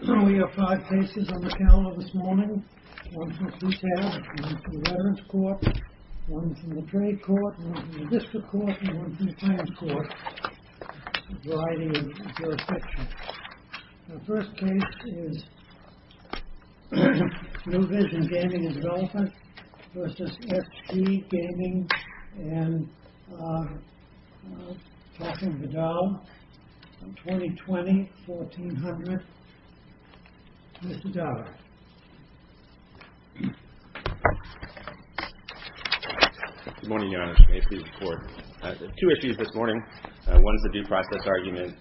We have five cases on the calendar this morning. One from CTAS, one from the Veterans Court, one from the Trade Court, one from the District Court, and one from the Finance Court. A variety of jurisdictions. The first case is New Vision Gaming & Development v. FG Gaming & Talking of the Doll, 2020, 1400. Mr. Dollar. Good morning, Your Honor. May it please the Court. Two issues this morning. One is a due process argument.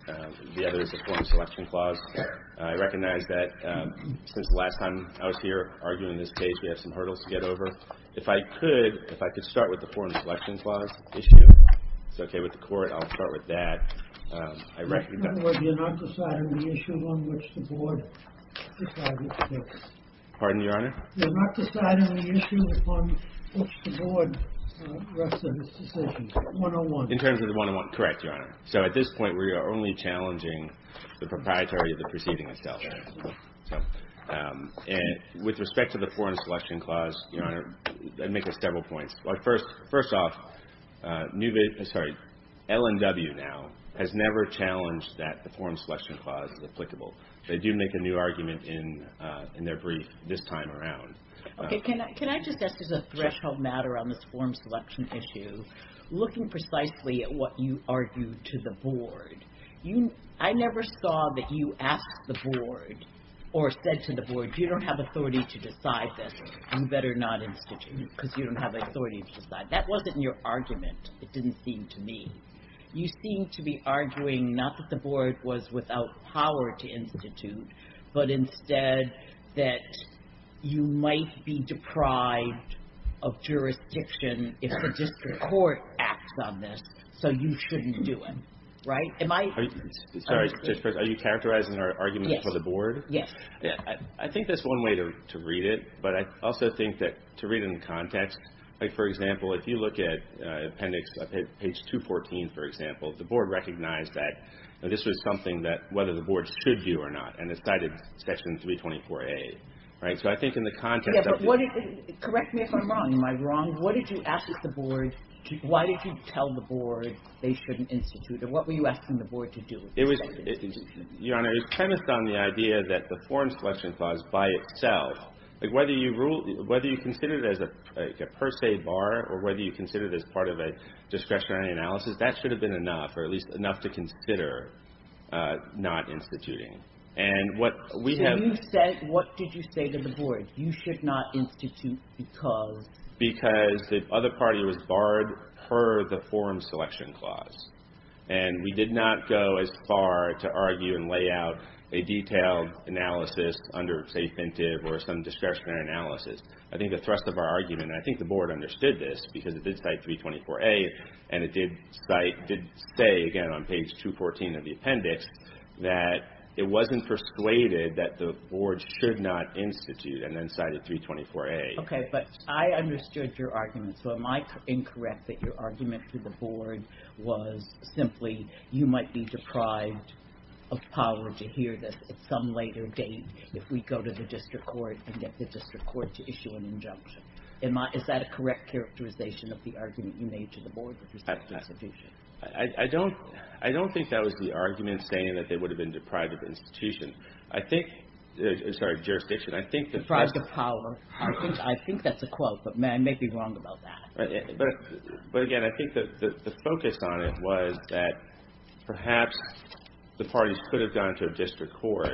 The other is a foreign selection clause. I recognize that since the last time I was here arguing this case, we have some hurdles to get over. If I could start with the foreign selection clause issue. It's okay with the Court. I'll start with that. I recognize... In other words, you're not deciding the issue on which the Board decides it to fix. Pardon, Your Honor? You're not deciding the issue upon which the Board rests on its decisions. 101. In terms of the 101. Correct, Your Honor. So at this point, we are only challenging the proprietary of the proceeding itself. And with respect to the foreign selection clause, Your Honor, that makes us several points. First off, L&W now has never challenged that the foreign selection clause is applicable. They do make a new argument in their brief this time around. Okay, can I just ask, as a threshold matter on this foreign selection issue, looking precisely at what you argued to the Board, I never saw that you asked the Board or said to the Board, if you don't have authority to decide this, you better not institute it because you don't have authority to decide it. That wasn't your argument, it didn't seem to me. You seem to be arguing not that the Board was without power to institute, but instead that you might be deprived of jurisdiction if the district court acts on this, so you shouldn't do it. Right? Sorry, are you characterizing our argument for the Board? Yes. I think that's one way to read it, but I also think that to read it in context, like, for example, if you look at appendix, page 214, for example, the Board recognized that this was something that whether the Board should do or not and decided section 324A, right? So I think in the context of... Correct me if I'm wrong. Am I wrong? What did you ask of the Board? Why did you tell the Board they shouldn't institute it? What were you asking the Board to do? Your Honor, it premised on the idea that the Forum Selection Clause by itself, like, whether you consider it as a per se bar or whether you consider it as part of a discretionary analysis, that should have been enough, or at least enough to consider not instituting. And what we have... So you said, what did you say to the Board? You should not institute because... Because the other party was barred per the Forum Selection Clause, and we did not go as far to argue and lay out a detailed analysis under, say, pentive or some discretionary analysis. I think the thrust of our argument, and I think the Board understood this because it did cite 324A, and it did say, again, on page 214 of the appendix, that it wasn't persuaded that the Board should not institute and then cited 324A. Okay, but I understood your argument. So am I incorrect that your argument to the Board was simply you might be deprived of power to hear this at some later date if we go to the district court and get the district court to issue an injunction? Is that a correct characterization of the argument you made to the Board with respect to institution? I don't think that was the argument saying that they would have been deprived of institution. I think... Sorry, jurisdiction. Deprived of power. I think that's a quote, but I may be wrong about that. But again, I think that the focus on it was that perhaps the parties could have gone to a district court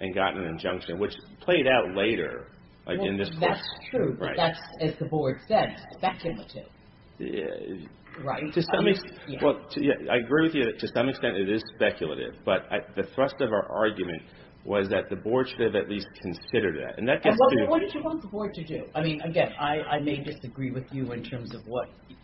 and gotten an injunction, which played out later, like in this case. That's true, but that's, as the Board said, speculative. Right. I agree with you that to some extent it is speculative, but the thrust of our argument was that the Board should have at least considered that. And what did you want the Board to do? I mean, again, I may disagree with you in terms of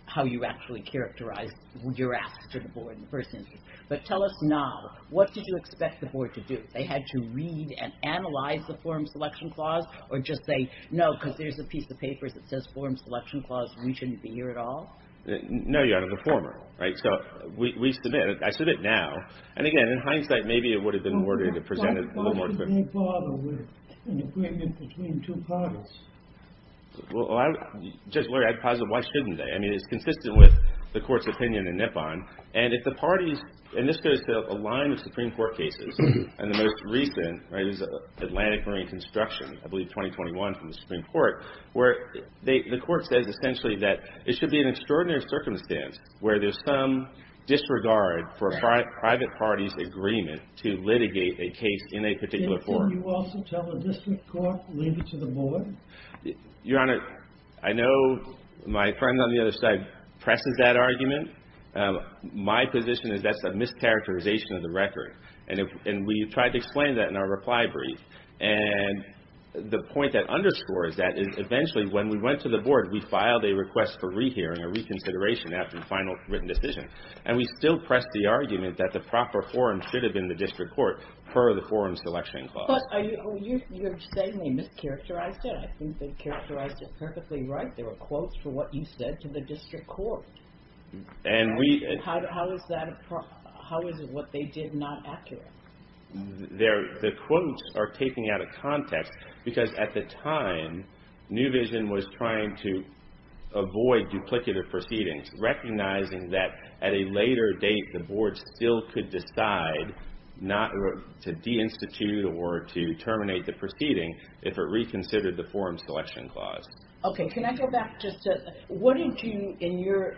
how you actually characterized your ask to the Board in the first instance. But tell us now, what did you expect the Board to do? They had to read and analyze the form selection clause or just say, no, because there's a piece of paper that says form selection clause, we shouldn't be here at all? No, Your Honor, the former. Right, so we submit, I submit now. And again, in hindsight, maybe it would have been more to present it a little more quickly. Why bother with an agreement between two parties? Well, Judge Lurie, I'd posit, why shouldn't they? I mean, it's consistent with the Court's opinion in Nippon. And if the parties, and this goes to a line of Supreme Court cases, and the most recent, right, is Atlantic Marine Construction, I believe 2021 from the Supreme Court, where the Court says essentially that it should be an extraordinary circumstance where there's some disregard for a private party's agreement to litigate a case in a particular forum. Didn't you also tell the District Court, leave it to the Board? Your Honor, I know my friend on the other side presses that argument. My position is that's a mischaracterization of the record. And we tried to explain that in our reply brief. And the point that underscores that is eventually when we went to the Board, we filed a request for rehearing, a reconsideration after the final written decision. And we still pressed the argument that the proper forum should have been the District Court per the Forum Selection Clause. But you're saying they mischaracterized it. I think they characterized it perfectly right. There were quotes for what you said to the District Court. And we... How is what they did not accurate? The quotes are taken out of context because at the time, New Vision was trying to avoid duplicative proceedings, recognizing that at a later date the Board still could decide not to de-institute or to terminate the proceeding if it reconsidered the Forum Selection Clause. Okay, can I go back just to... What did you... In your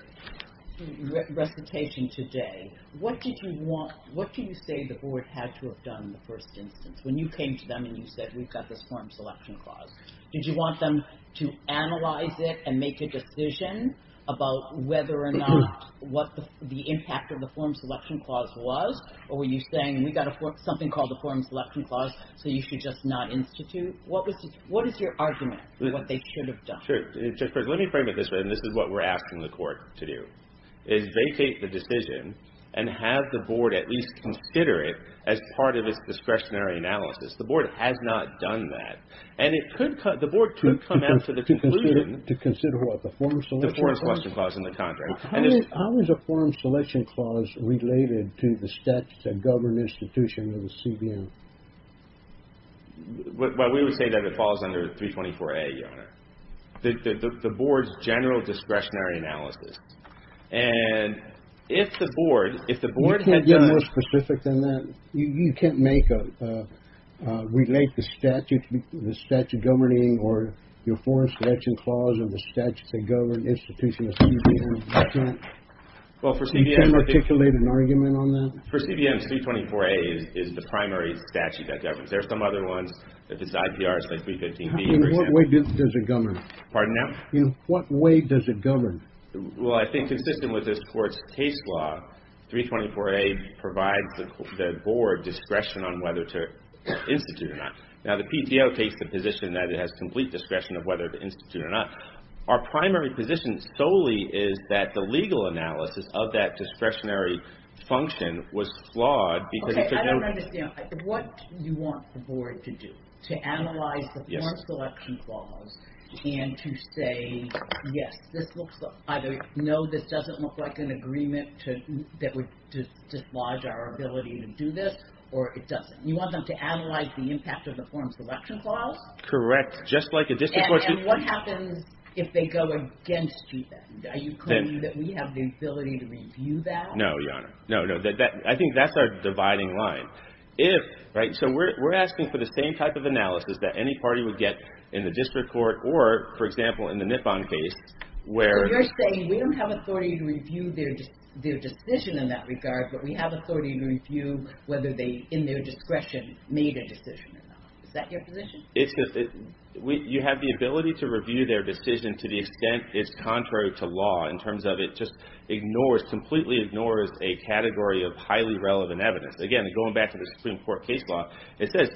recitation today, what did you want... What do you say the Board had to have done in the first instance when you came to them and you said, we've got this Forum Selection Clause? Did you want them to analyze it and make a decision about whether or not what the impact of the Forum Selection Clause was? Or were you saying, we've got something called the Forum Selection Clause so you should just not institute? What was... What is your argument for what they should have done? Sure. Let me frame it this way, and this is what we're asking the Court to do, is vacate the decision and have the Board at least consider it as part of its discretionary analysis. The Board has not done that. And it could... To consider what? The Forum Selection Clause? The Forum Selection Clause in the contract. How is a Forum Selection Clause related to the statutes that govern institutions of the CBM? Well, we would say that it falls under 324A, Your Honor. The Board's general discretionary analysis. And if the Board... You can't get more specific than that. You can't make a... relate the statute governing or your Forum Selection Clause or the statutes that govern institutions of the CBM? You can't articulate an argument on that? For CBMs, 324A is the primary statute that governs. There are some other ones. If it's IPR, it's like 315B, for example. In what way does it govern? Pardon, now? In what way does it govern? Well, I think consistent with this Court's case law, 324A provides the Board discretion on whether to institute or not. Now, the PDO takes the position that it has complete discretion of whether to institute or not. Our primary position solely is that the legal analysis of that discretionary function was flawed because it took no... Okay, I don't understand. What do you want the Board to do? To analyze the Forum Selection Clause and to say, yes, this looks... either no, this doesn't look like an agreement that would dislodge our ability to do this or it doesn't. You want them to analyze the impact of the Forum Selection Clause? Correct. Just like a district court... And what happens if they go against you? Are you claiming that we have the ability to review that? No, Your Honor. No, no, I think that's our dividing line. If... Right, so we're asking for the same type of analysis that any party would get in the district court or, for example, in the Nippon case where... So you're saying we don't have authority to review their decision in that regard but we have authority to review whether they, in their discretion, made a decision or not. Is that your position? You have the ability to review their decision to the extent it's contrary to law in terms of it just ignores, completely ignores a category of highly relevant evidence. Again, going back to the Supreme Court case law, it says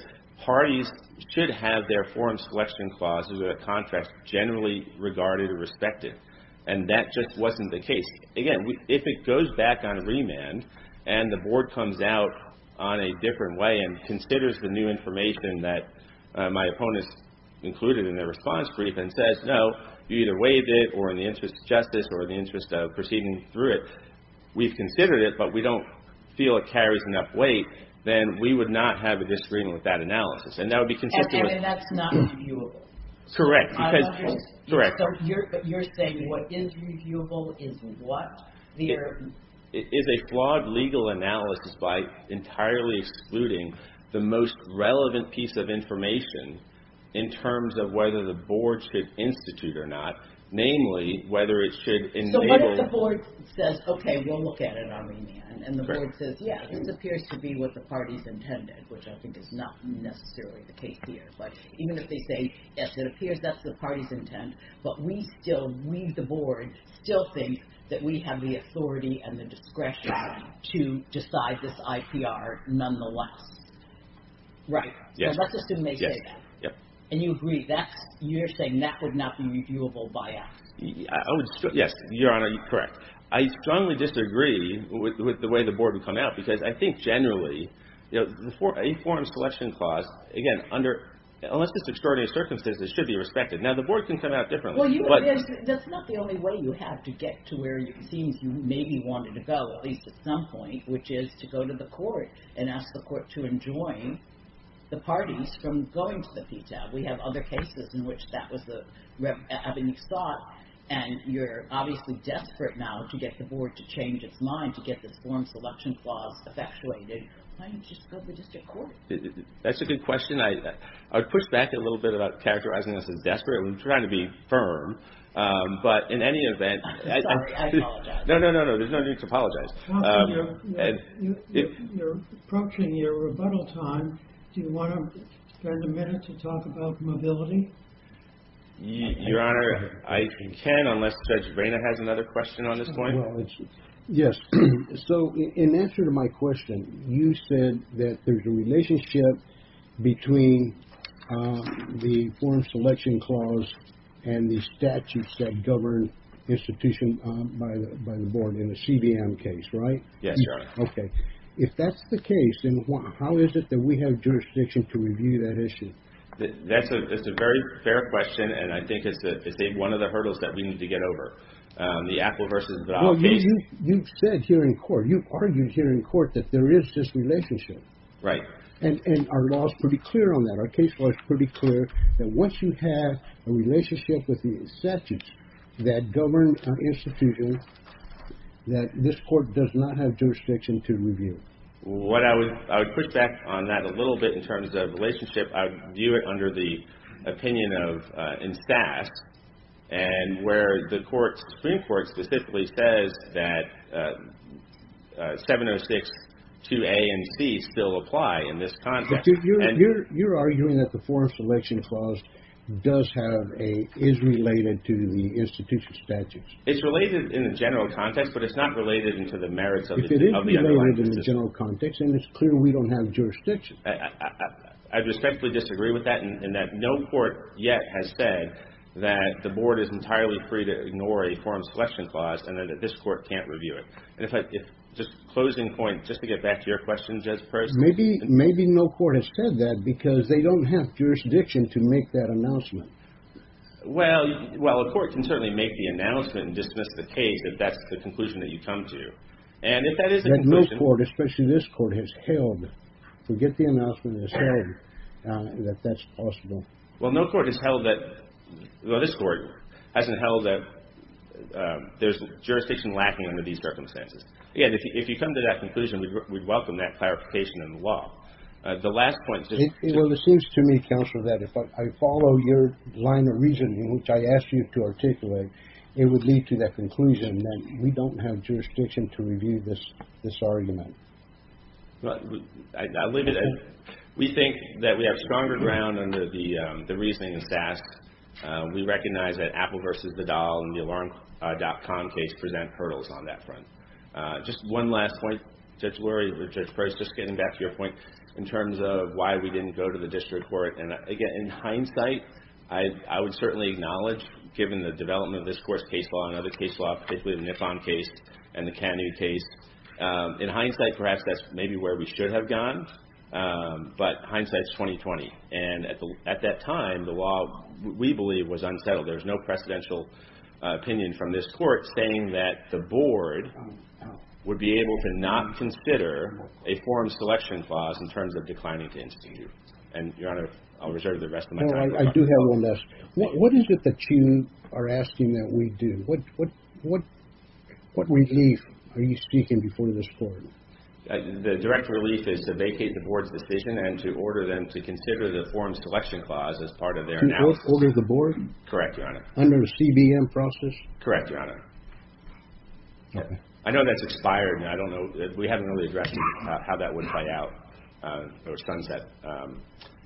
parties should have their Forum Selection Clause as a contract generally regarded or respected and that just wasn't the case. Again, if it goes back on remand and the Board comes out on a different way and considers the new information that my opponents included in their response brief and says, no, you either waived it or in the interest of justice or in the interest of proceeding through it we've considered it but we don't feel it carries enough weight then we would not have a disagreement with that analysis and that would be consistent with... And that's not reviewable? Correct, because... I don't understand. Correct. So you're saying what is reviewable is what? It is a flawed legal analysis by entirely excluding the most relevant piece of information in terms of whether the Board should institute or not namely, whether it should... So what if the Board says, okay, we'll look at it on remand and the Board says, yeah, this appears to be what the parties intended which I think is not necessarily the case here but even if they say, yes, it appears that's the party's intent but we still, we the Board, still think that we have the authority and the discretion to decide this IPR nonetheless. Right. So let's assume they say that. And you agree, you're saying that would not be reviewable by us. Yes, Your Honor, you're correct. I strongly disagree with the way the Board would come out because I think generally a form selection clause, again, unless there's extraordinary circumstances should be respected. Now the Board can come out differently. That's not the only way you have to get to where it seems you maybe wanted to go at least at some point which is to go to the Court and ask the Court to enjoin the parties from going to the PTAB. We have other cases in which that was the avenue sought and you're obviously desperate now to get the Board to change its mind to get this form selection clause effectuated. Why don't you just go to the District Court? That's a good question. I would push back a little bit about characterizing this as desperate. I'm trying to be firm. But in any event... Sorry, I apologize. No, no, no, no. There's no need to apologize. If you're approaching your rebuttal time, do you want to spend a minute to talk about mobility? Your Honor, I can unless Judge Vaina has another question on this point. Yes. So in answer to my question, you said that there's a relationship between the form selection clause and the statutes that govern institutions by the Board in the CBM case, right? Yes, Your Honor. Okay. If that's the case, then how is it that we have jurisdiction to review that issue? That's a very fair question and I think it's one of the hurdles that we need to get over. The Apple v. Vidal case... Well, you've said here in court, you've argued here in court that there is this relationship. Right. And our law is pretty clear on that. Our case law is pretty clear that once you have a relationship with the statutes that govern an institution, that this court does not have jurisdiction to review. What I would... I would push back on that a little bit in terms of relationship. I would view it under the opinion of... in staff and where the Supreme Court specifically says that 706-2A and C still apply in this context. You're arguing that the form selection clause does have a... It's related in the general context but it's not related into the merits of the underlying... If it is related in the general context then it's clear we don't have jurisdiction. I respectfully disagree with that in that no court yet has said that the board is entirely free to ignore a form selection clause and that this court can't review it. And if I... just closing point, just to get back to your question, Judge Perkins... Maybe no court has said that because they don't have jurisdiction to make that announcement. Well, a court can certainly make the announcement and dismiss the case if that's the conclusion that you come to. And if that is the conclusion... That no court, especially this court, has held... forget the announcement that has held that that's possible. Well, no court has held that... well, this court hasn't held that there's jurisdiction lacking under these circumstances. Again, if you come to that conclusion we'd welcome that clarification in the law. The last point... Well, it seems to me, Counsel, that if I follow your line of reasoning which I asked you to articulate it would lead to that conclusion that we don't have jurisdiction to review this argument. Well, I'll leave it at that. We think that we have stronger ground under the reasoning and stats. We recognize that Apple versus the doll and the alarm.com case present hurdles on that front. Just one last point, Judge Lurie, Judge Perkins, just getting back to your point in terms of why we didn't go to the district court and, again, in hindsight I would certainly acknowledge given the development of this Court's case law and other case law particularly the Nippon case and the Kennedy case in hindsight, perhaps, that's maybe where we should have gone but hindsight's 20-20 and at that time the law, we believe, was unsettled. There's no precedential opinion from this Court saying that the Board would be able to not consider a forum selection clause in terms of declining to institute. And, Your Honor, I'll reserve the rest of my time. No, I do have one last. What is it that you are asking that we do? What relief are you seeking before this Court? The direct relief is to vacate the Board's decision and to order them to consider the forum selection clause as part of their analysis. To both order the Board? Correct, Your Honor. Under a CBM process? Correct, Your Honor. Okay. I know that's expired and I don't know we haven't really addressed how that would play out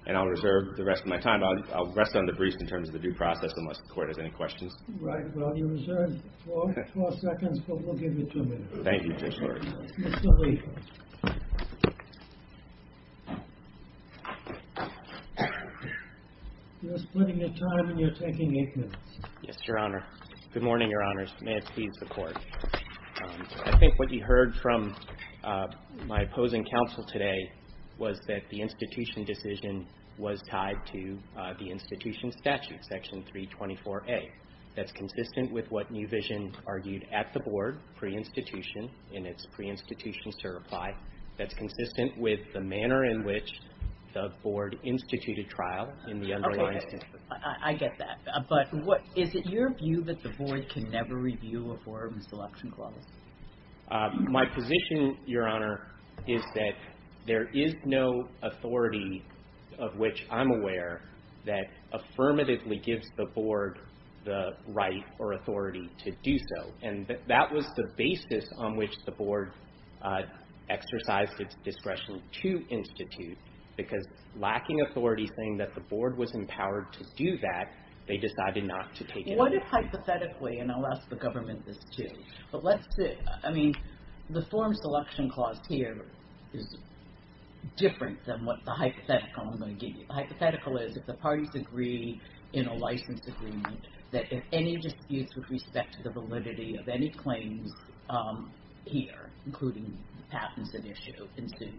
and I'll reserve the rest of my time. I'll rest on the brief in terms of the due process unless the Court has any questions. Right. Well, you're reserved four seconds but we'll give you two minutes. Thank you, Judge Lurie. You're splitting your time and you're taking eight minutes. Yes, Your Honor. Good morning, Your Honors. May it please the Court. I think what you heard from my opposing counsel today was that the institution decision was tied to the institution statute, Section 324A. That's consistent with what New Vision argued at the Board pre-institution in its pre-institution certify. That's consistent with the manner in which the Board instituted trial in the unruly instance. Okay. I get that. But is it your view that the Board can never review a forum selection clause? My position, Your Honor, is that there is no authority of which I'm aware that affirmatively gives the Board the right or authority to do so. And that was the basis on which the Board exercised its discretion to institute because lacking authority saying that the Board was empowered to do that, they decided not to take it. What if hypothetically, and I'll ask the government this too, but let's say, I mean, the forum selection clause here is different than what the hypothetical I'm going to give you. The hypothetical is if the parties agree in a license agreement that if any disputes with respect to the validity of any claims here, including patents at issue, ensue,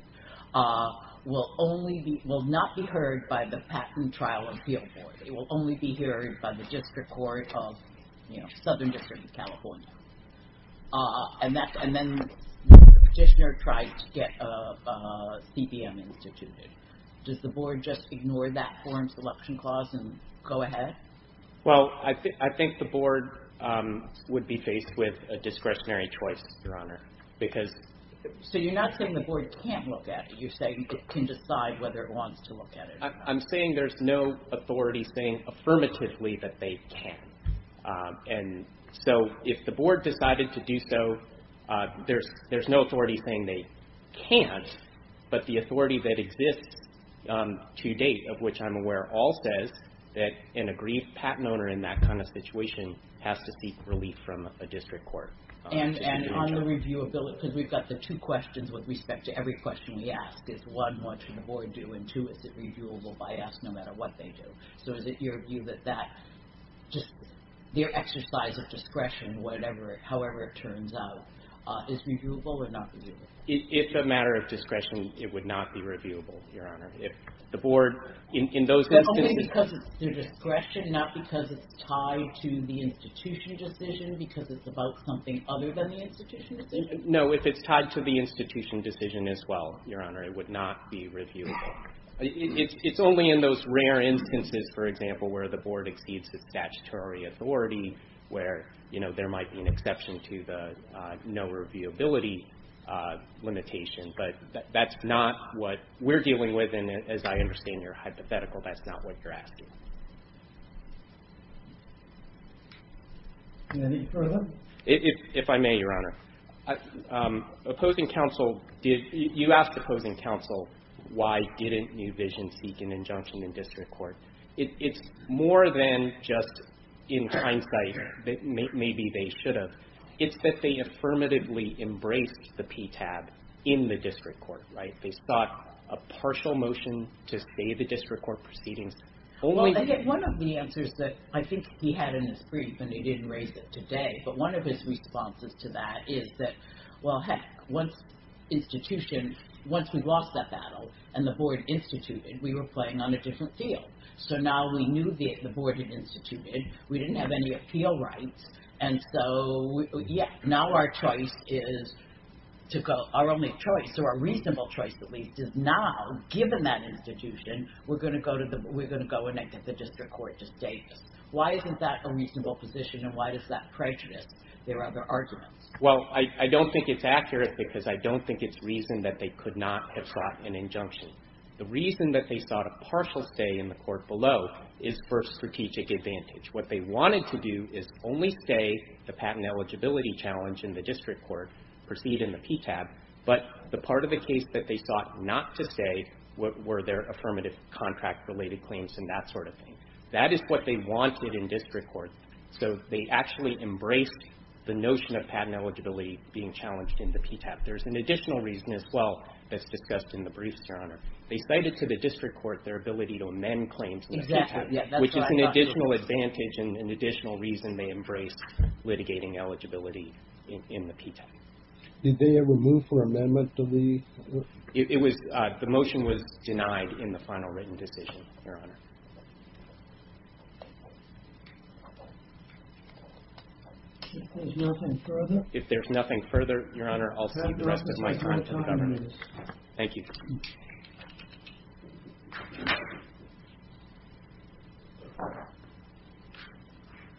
will not be heard by the Patent Trial Appeal Board. It will only be heard by the District Court of Southern District of California. And then the petitioner tries to get a CBM instituted. Does the Board just ignore that forum selection clause and go ahead? Well, I think the Board would be faced with a discretionary choice, Your Honor, because... So you're not saying the Board can't look at it. You're saying it can decide whether it wants to look at it. I'm saying there's no authority saying affirmatively that they can. And so if the Board decided to do so, there's no authority saying they can't. But the authority that exists to date, of which I'm aware, all says that an agreed patent owner in that kind of situation has to seek relief from a District Court. And on the reviewability, because we've got the two questions with respect to every question we ask. Is one, what should the Board do? And two, is it reviewable by us no matter what they do? So is it your view that that just their exercise of discretion, however it turns out, is reviewable or not reviewable? If a matter of discretion, it would not be reviewable, Your Honor. If the Board, in those instances... Only because it's their discretion, not because it's tied to the institution decision, because it's about something other than the institution decision? No, if it's tied to the institution decision as well, Your Honor, it would not be reviewable. It's only in those rare instances, for example, where the Board exceeds the statutory authority, where, you know, there might be an exception to the no reviewability limitation. But that's not what we're dealing with, and as I understand your hypothetical, that's not what you're asking. Any further? If I may, Your Honor. Opposing counsel, you asked opposing counsel why didn't New Vision seek an injunction in district court. It's more than just in hindsight that maybe they should have. It's that they affirmatively embraced the PTAB in the district court, right? They sought a partial motion to stay the district court proceedings. Only... One of the answers that I think he had in his brief, and he didn't raise it today, but one of his responses to that is that, well, heck, once institution... Once we lost that battle and the Board instituted, we were playing on a different field. So now we knew the Board had instituted, we didn't have any appeal rights, and so, yeah, now our choice is to go... Our only choice, or a reasonable choice at least, is now, given that institution, we're going to go and get the district court to stay. Why isn't that a reasonable position and why does that prejudice their other arguments? Well, I don't think it's accurate because I don't think it's reason that they could not have sought an injunction. The reason that they sought a partial stay in the court below is for a strategic advantage. What they wanted to do is only stay the patent eligibility challenge in the district court, proceed in the PTAB, but the part of the case that they sought not to stay were their affirmative contract-related claims and that sort of thing. That is what they wanted in district court. So they actually embraced the notion of patent eligibility being challenged in the PTAB. There's an additional reason as well that's discussed in the briefs, Your Honor. They cited to the district court their ability to amend claims in the PTAB, which is an additional advantage and an additional reason they embraced litigating eligibility in the PTAB. Did they ever move for amendment to the... It was... The motion was denied in the final written decision, Your Honor. If there's nothing further... If there's nothing further, Your Honor, I'll see the rest of my time to the governor. Thank you.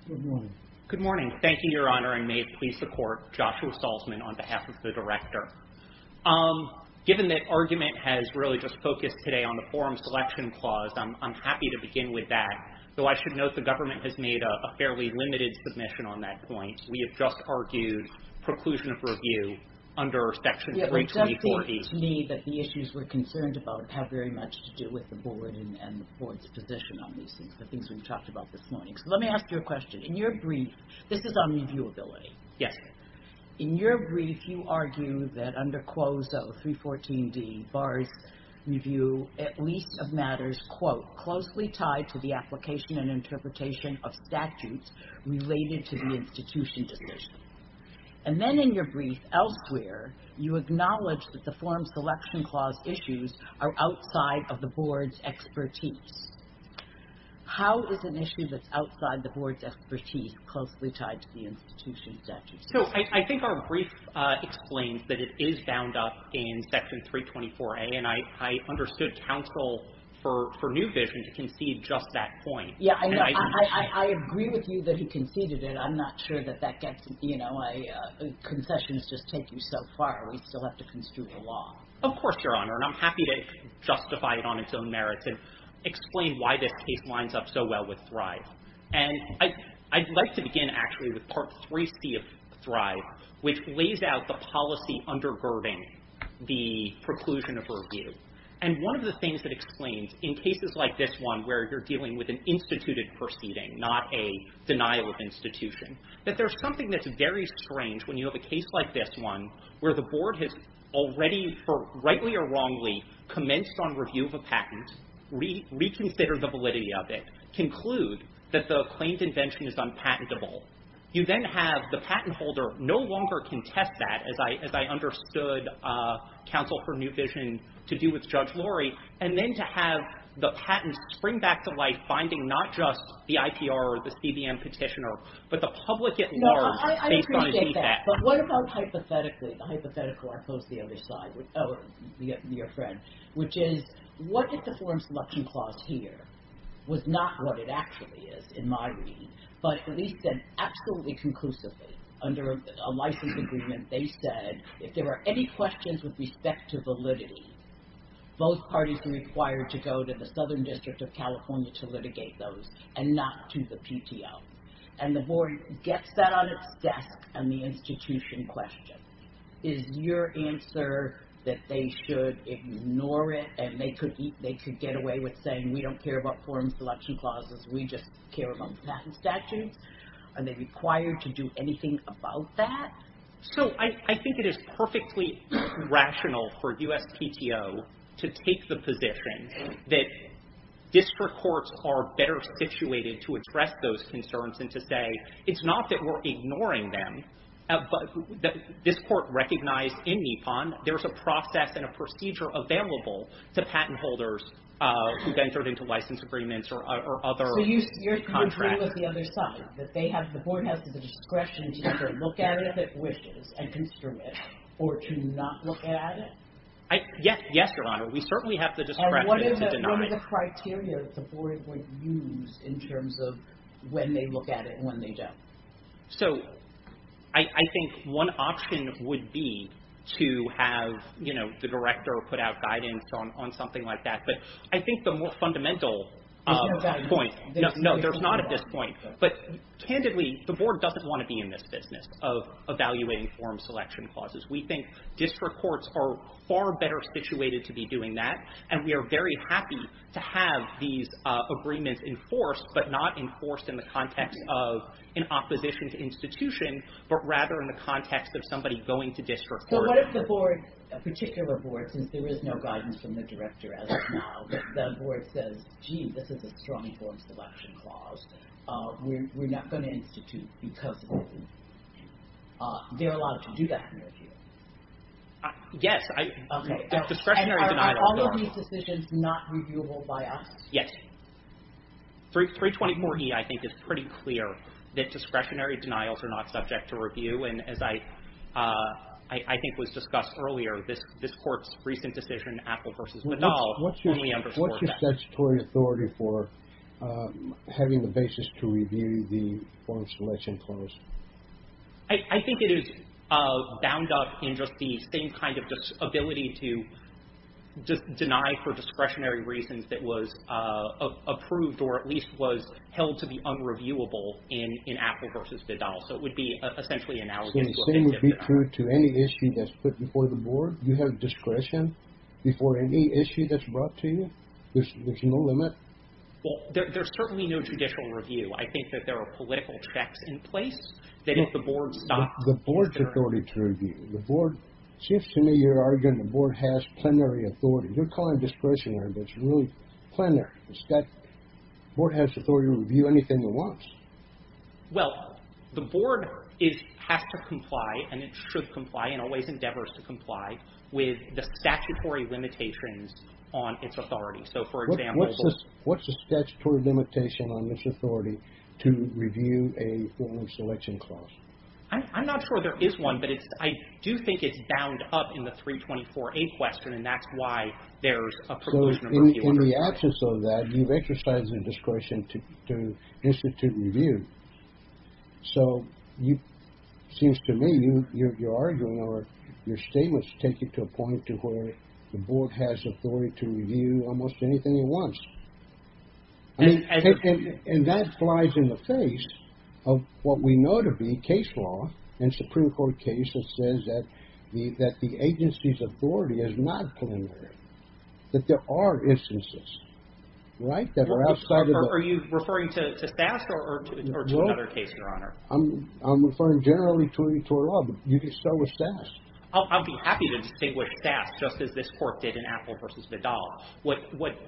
Good morning. Good morning. Thank you, Your Honor, and may it please the court, Joshua Salzman on behalf of the director. Given that argument has really just focused today on the forum selection clause, I'm happy to begin with that, though I should note the government has made a fairly limited submission on that point. We have just argued preclusion of review under Section 32040. It does seem to me that the issues we're concerned about have very much to do with the board and the board's position on these things, the things we've talked about this morning. So let me ask you a question. In your brief... This is on reviewability. Yes. In your brief, you argue that under QOZO 314D, bars review at least of matters, quote, closely tied to the application and interpretation of statutes related to the institution decision. And then in your brief elsewhere, you acknowledge that the forum selection clause issues are outside of the board's expertise. How is an issue that's outside the board's expertise closely tied to the institution statute? So I think our brief explains that it is bound up in Section 324A, and I understood counsel for New Vision to concede just that point. Yeah, I know. I agree with you that he conceded it. I'm not sure that that gets, you know, We still have to construe the law. Of course, Your Honor, and I'm happy to justify it on its own merits and explain why this case lines up so well with Thrive. And I'd like to begin actually with Part 3C of Thrive, which lays out the policy undergirding the preclusion of review. And one of the things that explains in cases like this one where you're dealing with an instituted proceeding, not a denial of institution, that there's something that's very strange when you have a case like this one where the board has already, rightly or wrongly, commenced on review of a patent, reconsidered the validity of it, conclude that the claimed invention is unpatentable. You then have the patent holder no longer contest that, as I understood counsel for New Vision to do with Judge Lurie, and then to have the patent spring back to life, finding not just the IPR or the CBM petitioner, but the public at large No, I appreciate that. But what about hypothetically, the hypothetical I posed to the other side, or your friend, which is, what if the form selection clause here was not what it actually is, in my reading, but at least said absolutely conclusively, under a license agreement, they said, if there were any questions with respect to validity, both parties were required to go to the Southern District of California to litigate those, and not to the PTO. And the board gets that on its desk on the institution question. Is your answer that they should ignore it, and they could get away with saying, we don't care about form selection clauses, we just care about patent statutes? Are they required to do anything about that? So I think it is perfectly rational for USPTO to take the position that district courts are better situated to address those concerns, and to say, it's not that we're ignoring them, but this court recognized in NEPON there's a process and a procedure available to patent holders who've entered into license agreements or other contracts. So you agree with the other side, that the board has the discretion to either look at it if it wishes, and consider it, or to not look at it? Yes, Your Honor. We certainly have the discretion to deny it. And what are the criteria that the board would use in terms of when they look at it and when they don't? So I think one option would be to have the director put out guidance on something like that. But I think the more fundamental point... There's no guidance. No, there's not at this point. But candidly, the board doesn't want to be in this business of evaluating form selection clauses. We think district courts are far better situated to be doing that, and we are very happy to have these agreements enforced, but not enforced in the context of an opposition to institution, but rather in the context of somebody going to district court. So what if the board, a particular board, since there is no guidance from the director as of now, the board says, gee, this is a strong form selection clause. We're not going to institute because of it. They're allowed to do that in their view. Yes. Discretionary denial of authority. And are all of these decisions not reviewable by us? Yes. 324E, I think, is pretty clear that discretionary denials are not subject to review. And as I think was discussed earlier, this court's recent decision, Apple v. Badal, only underscores that. What's your statutory authority for having the basis to review the form selection clause? I think it is bound up in just the same kind of ability to just deny for discretionary reasons that was approved or at least was held to be unreviewable in Apple v. Badal. So it would be essentially analogous. So the same would be true to any issue that's put before the board? You have discretion before any issue that's brought to you? There's no limit? Well, there's certainly no judicial review. I think that there are political checks in place that if the board stops... The board's authority to review. The board, it seems to me you're arguing the board has plenary authority. You're calling discretionary but it's really plenary. The board has authority to review anything it wants. Well, the board has to comply and it should comply and always endeavors to comply with the statutory limitations on its authority. So for example... What's the statutory limitation on this authority to review a form selection clause? I'm not sure there is one but I do think it's bound up in the 324A question and that's why there's a proposed number if you wonder. So in the absence of that you've exercised the discretion to institute review. So it seems to me you're arguing or your statements take you to a point to where the board has authority to review almost anything it wants. And that flies in the face of what we know to be case law and Supreme Court case that says that the agency's authority is not plenary. That there are instances that are outside of the... Are you referring to SASS or to another case, Your Honor? I'm referring generally to a law but you can start with SASS. I'll be happy to distinguish SASS just as this court did in Appel v. Vidal. What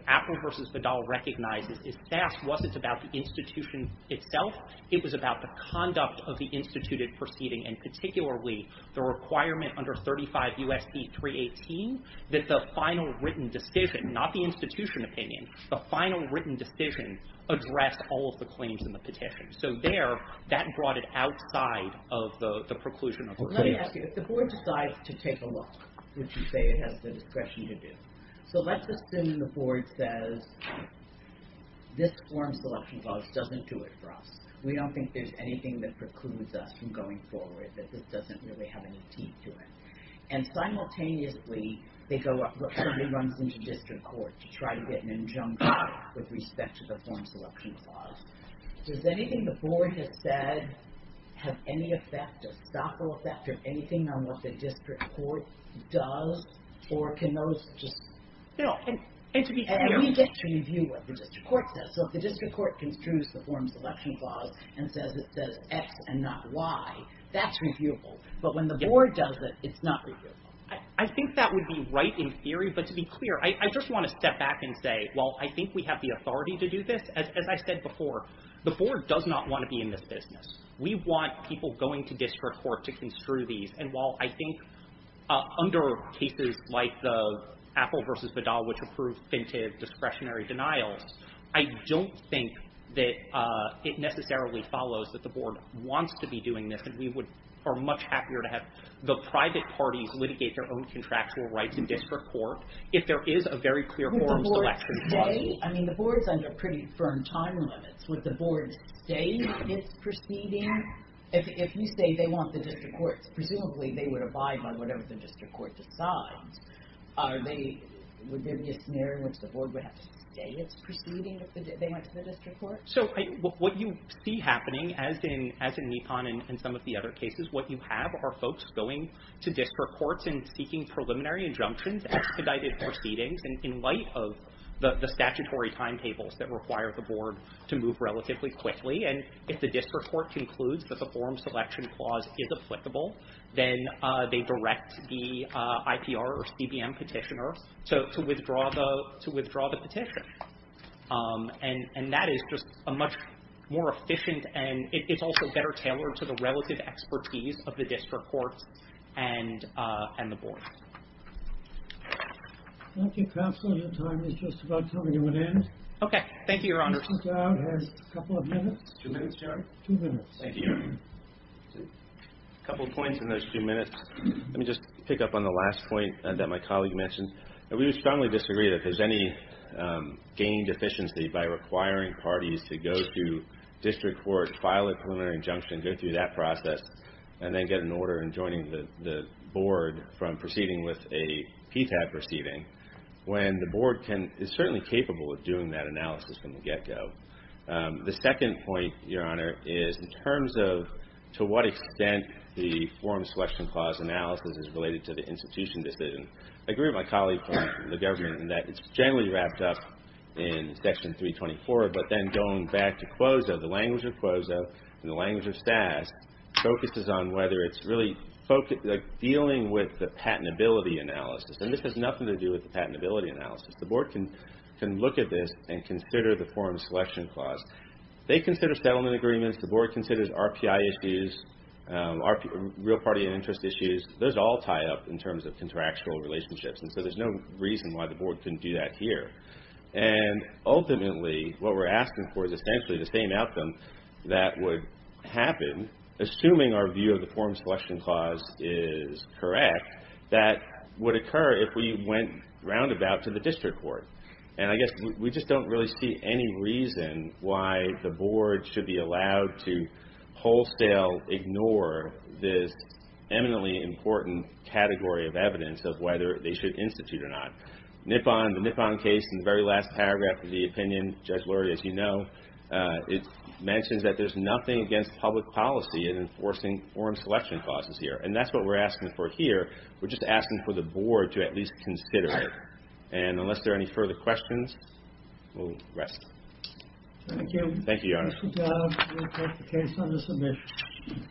Appel v. Vidal recognizes is SASS wasn't about the institution itself. It was about the conduct of the instituted proceeding and particularly the requirement under 35 U.S.C. 318 that the final written decision not the institution opinion the final written decision addressed all of the claims in the petition. So there, that brought it outside of the preclusion of... Let me ask you. If the board decides to take a look would you say it has the discretion to do? So let's assume the board says this form selection clause doesn't do it for us. We don't think there's anything that precludes us from going forward that this doesn't really have any teeth to it. And simultaneously they go up, somebody runs into district court to try to get an injunction with respect to the form selection clause. Does anything the board has said have any effect a stoppable effect or anything on what the district court does or can those just... No, and to be clear... And we get to review what the district court says. So if the district court construes the form selection clause and says it says X and not Y that's reviewable. But when the board does it it's not reviewable. I think that would be right in theory but to be clear I just want to step back and say well I think we have the authority to do this. As I said before the board does not want to be in this business. We want people going to district court to construe these and while I think under cases like the Apple v. Vidal which approved fintive discretionary denials I don't think that it necessarily follows that the board wants to be doing this and we would are much happier to have the private parties litigate their own contractual rights in district court if there is a very clear forms selection clause. Who would the board say? I mean the board's under pretty firm time limits. Would the board say it's proceeding? If you say they want the district court presumably they would abide by whatever the district court decides. Are they... Would there be a scenario in which the board would have to say it's proceeding if they went to the district court? So what you see happening as in Nikon and some of the other cases what you have are folks going to district courts and seeking preliminary injunctions expedited proceedings in light of the statutory timetables that require the board to move relatively quickly and if the district court concludes that the forms selection clause is applicable then they direct the IPR or CBM petitioner to withdraw the petition. And that is just a much more efficient and it's also better tailored to the relative expertise of the district court and the board. Thank you, counsel. Your time is just about coming to an end. Okay. Thank you, your honor. Mr. Dowd has a couple of minutes. Two minutes, Jerry? Two minutes. Thank you. A couple of points in those two minutes. Let me just pick up on the last point that my colleague mentioned. We would strongly disagree that there's any gained efficiency by requiring parties to go to district court file a preliminary injunction go through that process and then get an order in joining the board from proceeding with a PTAB proceeding when the board is certainly capable of doing that analysis from the get-go. The second point, your honor, is in terms of to what extent the form selection clause analysis is related to the institution decision. I agree with my colleague from the government wrapped up in section 324 but then going back to CLOZO, the language of CLOZO and the language of STAS focuses on whether it's really dealing with the patentability analysis. And this has nothing to do with the patentability analysis. The board can look at this and consider the form selection clause. They consider settlement agreements. The board considers RPI issues, real party and interest issues. Those all tie up in terms of contractual relationships and so there's no reason why the board couldn't do that here. And ultimately, what we're asking for is essentially the same outcome that would happen assuming our view of the form selection clause is correct that would occur if we went roundabout to the district court. And I guess we just don't really see any reason why the board should be allowed wholesale ignore this eminently important category of evidence of whether they should institute or not. Nippon, the Nippon case in the very last paragraph of the opinion, Judge Lurie, as you know, it mentions that there's nothing against public policy in enforcing form selection clauses here. And that's what we're asking for here. We're just asking for the board to at least consider it. And unless there are any further questions, we'll rest. Thank you. Thank you, Your Honor. Good job. We'll take the case under submission.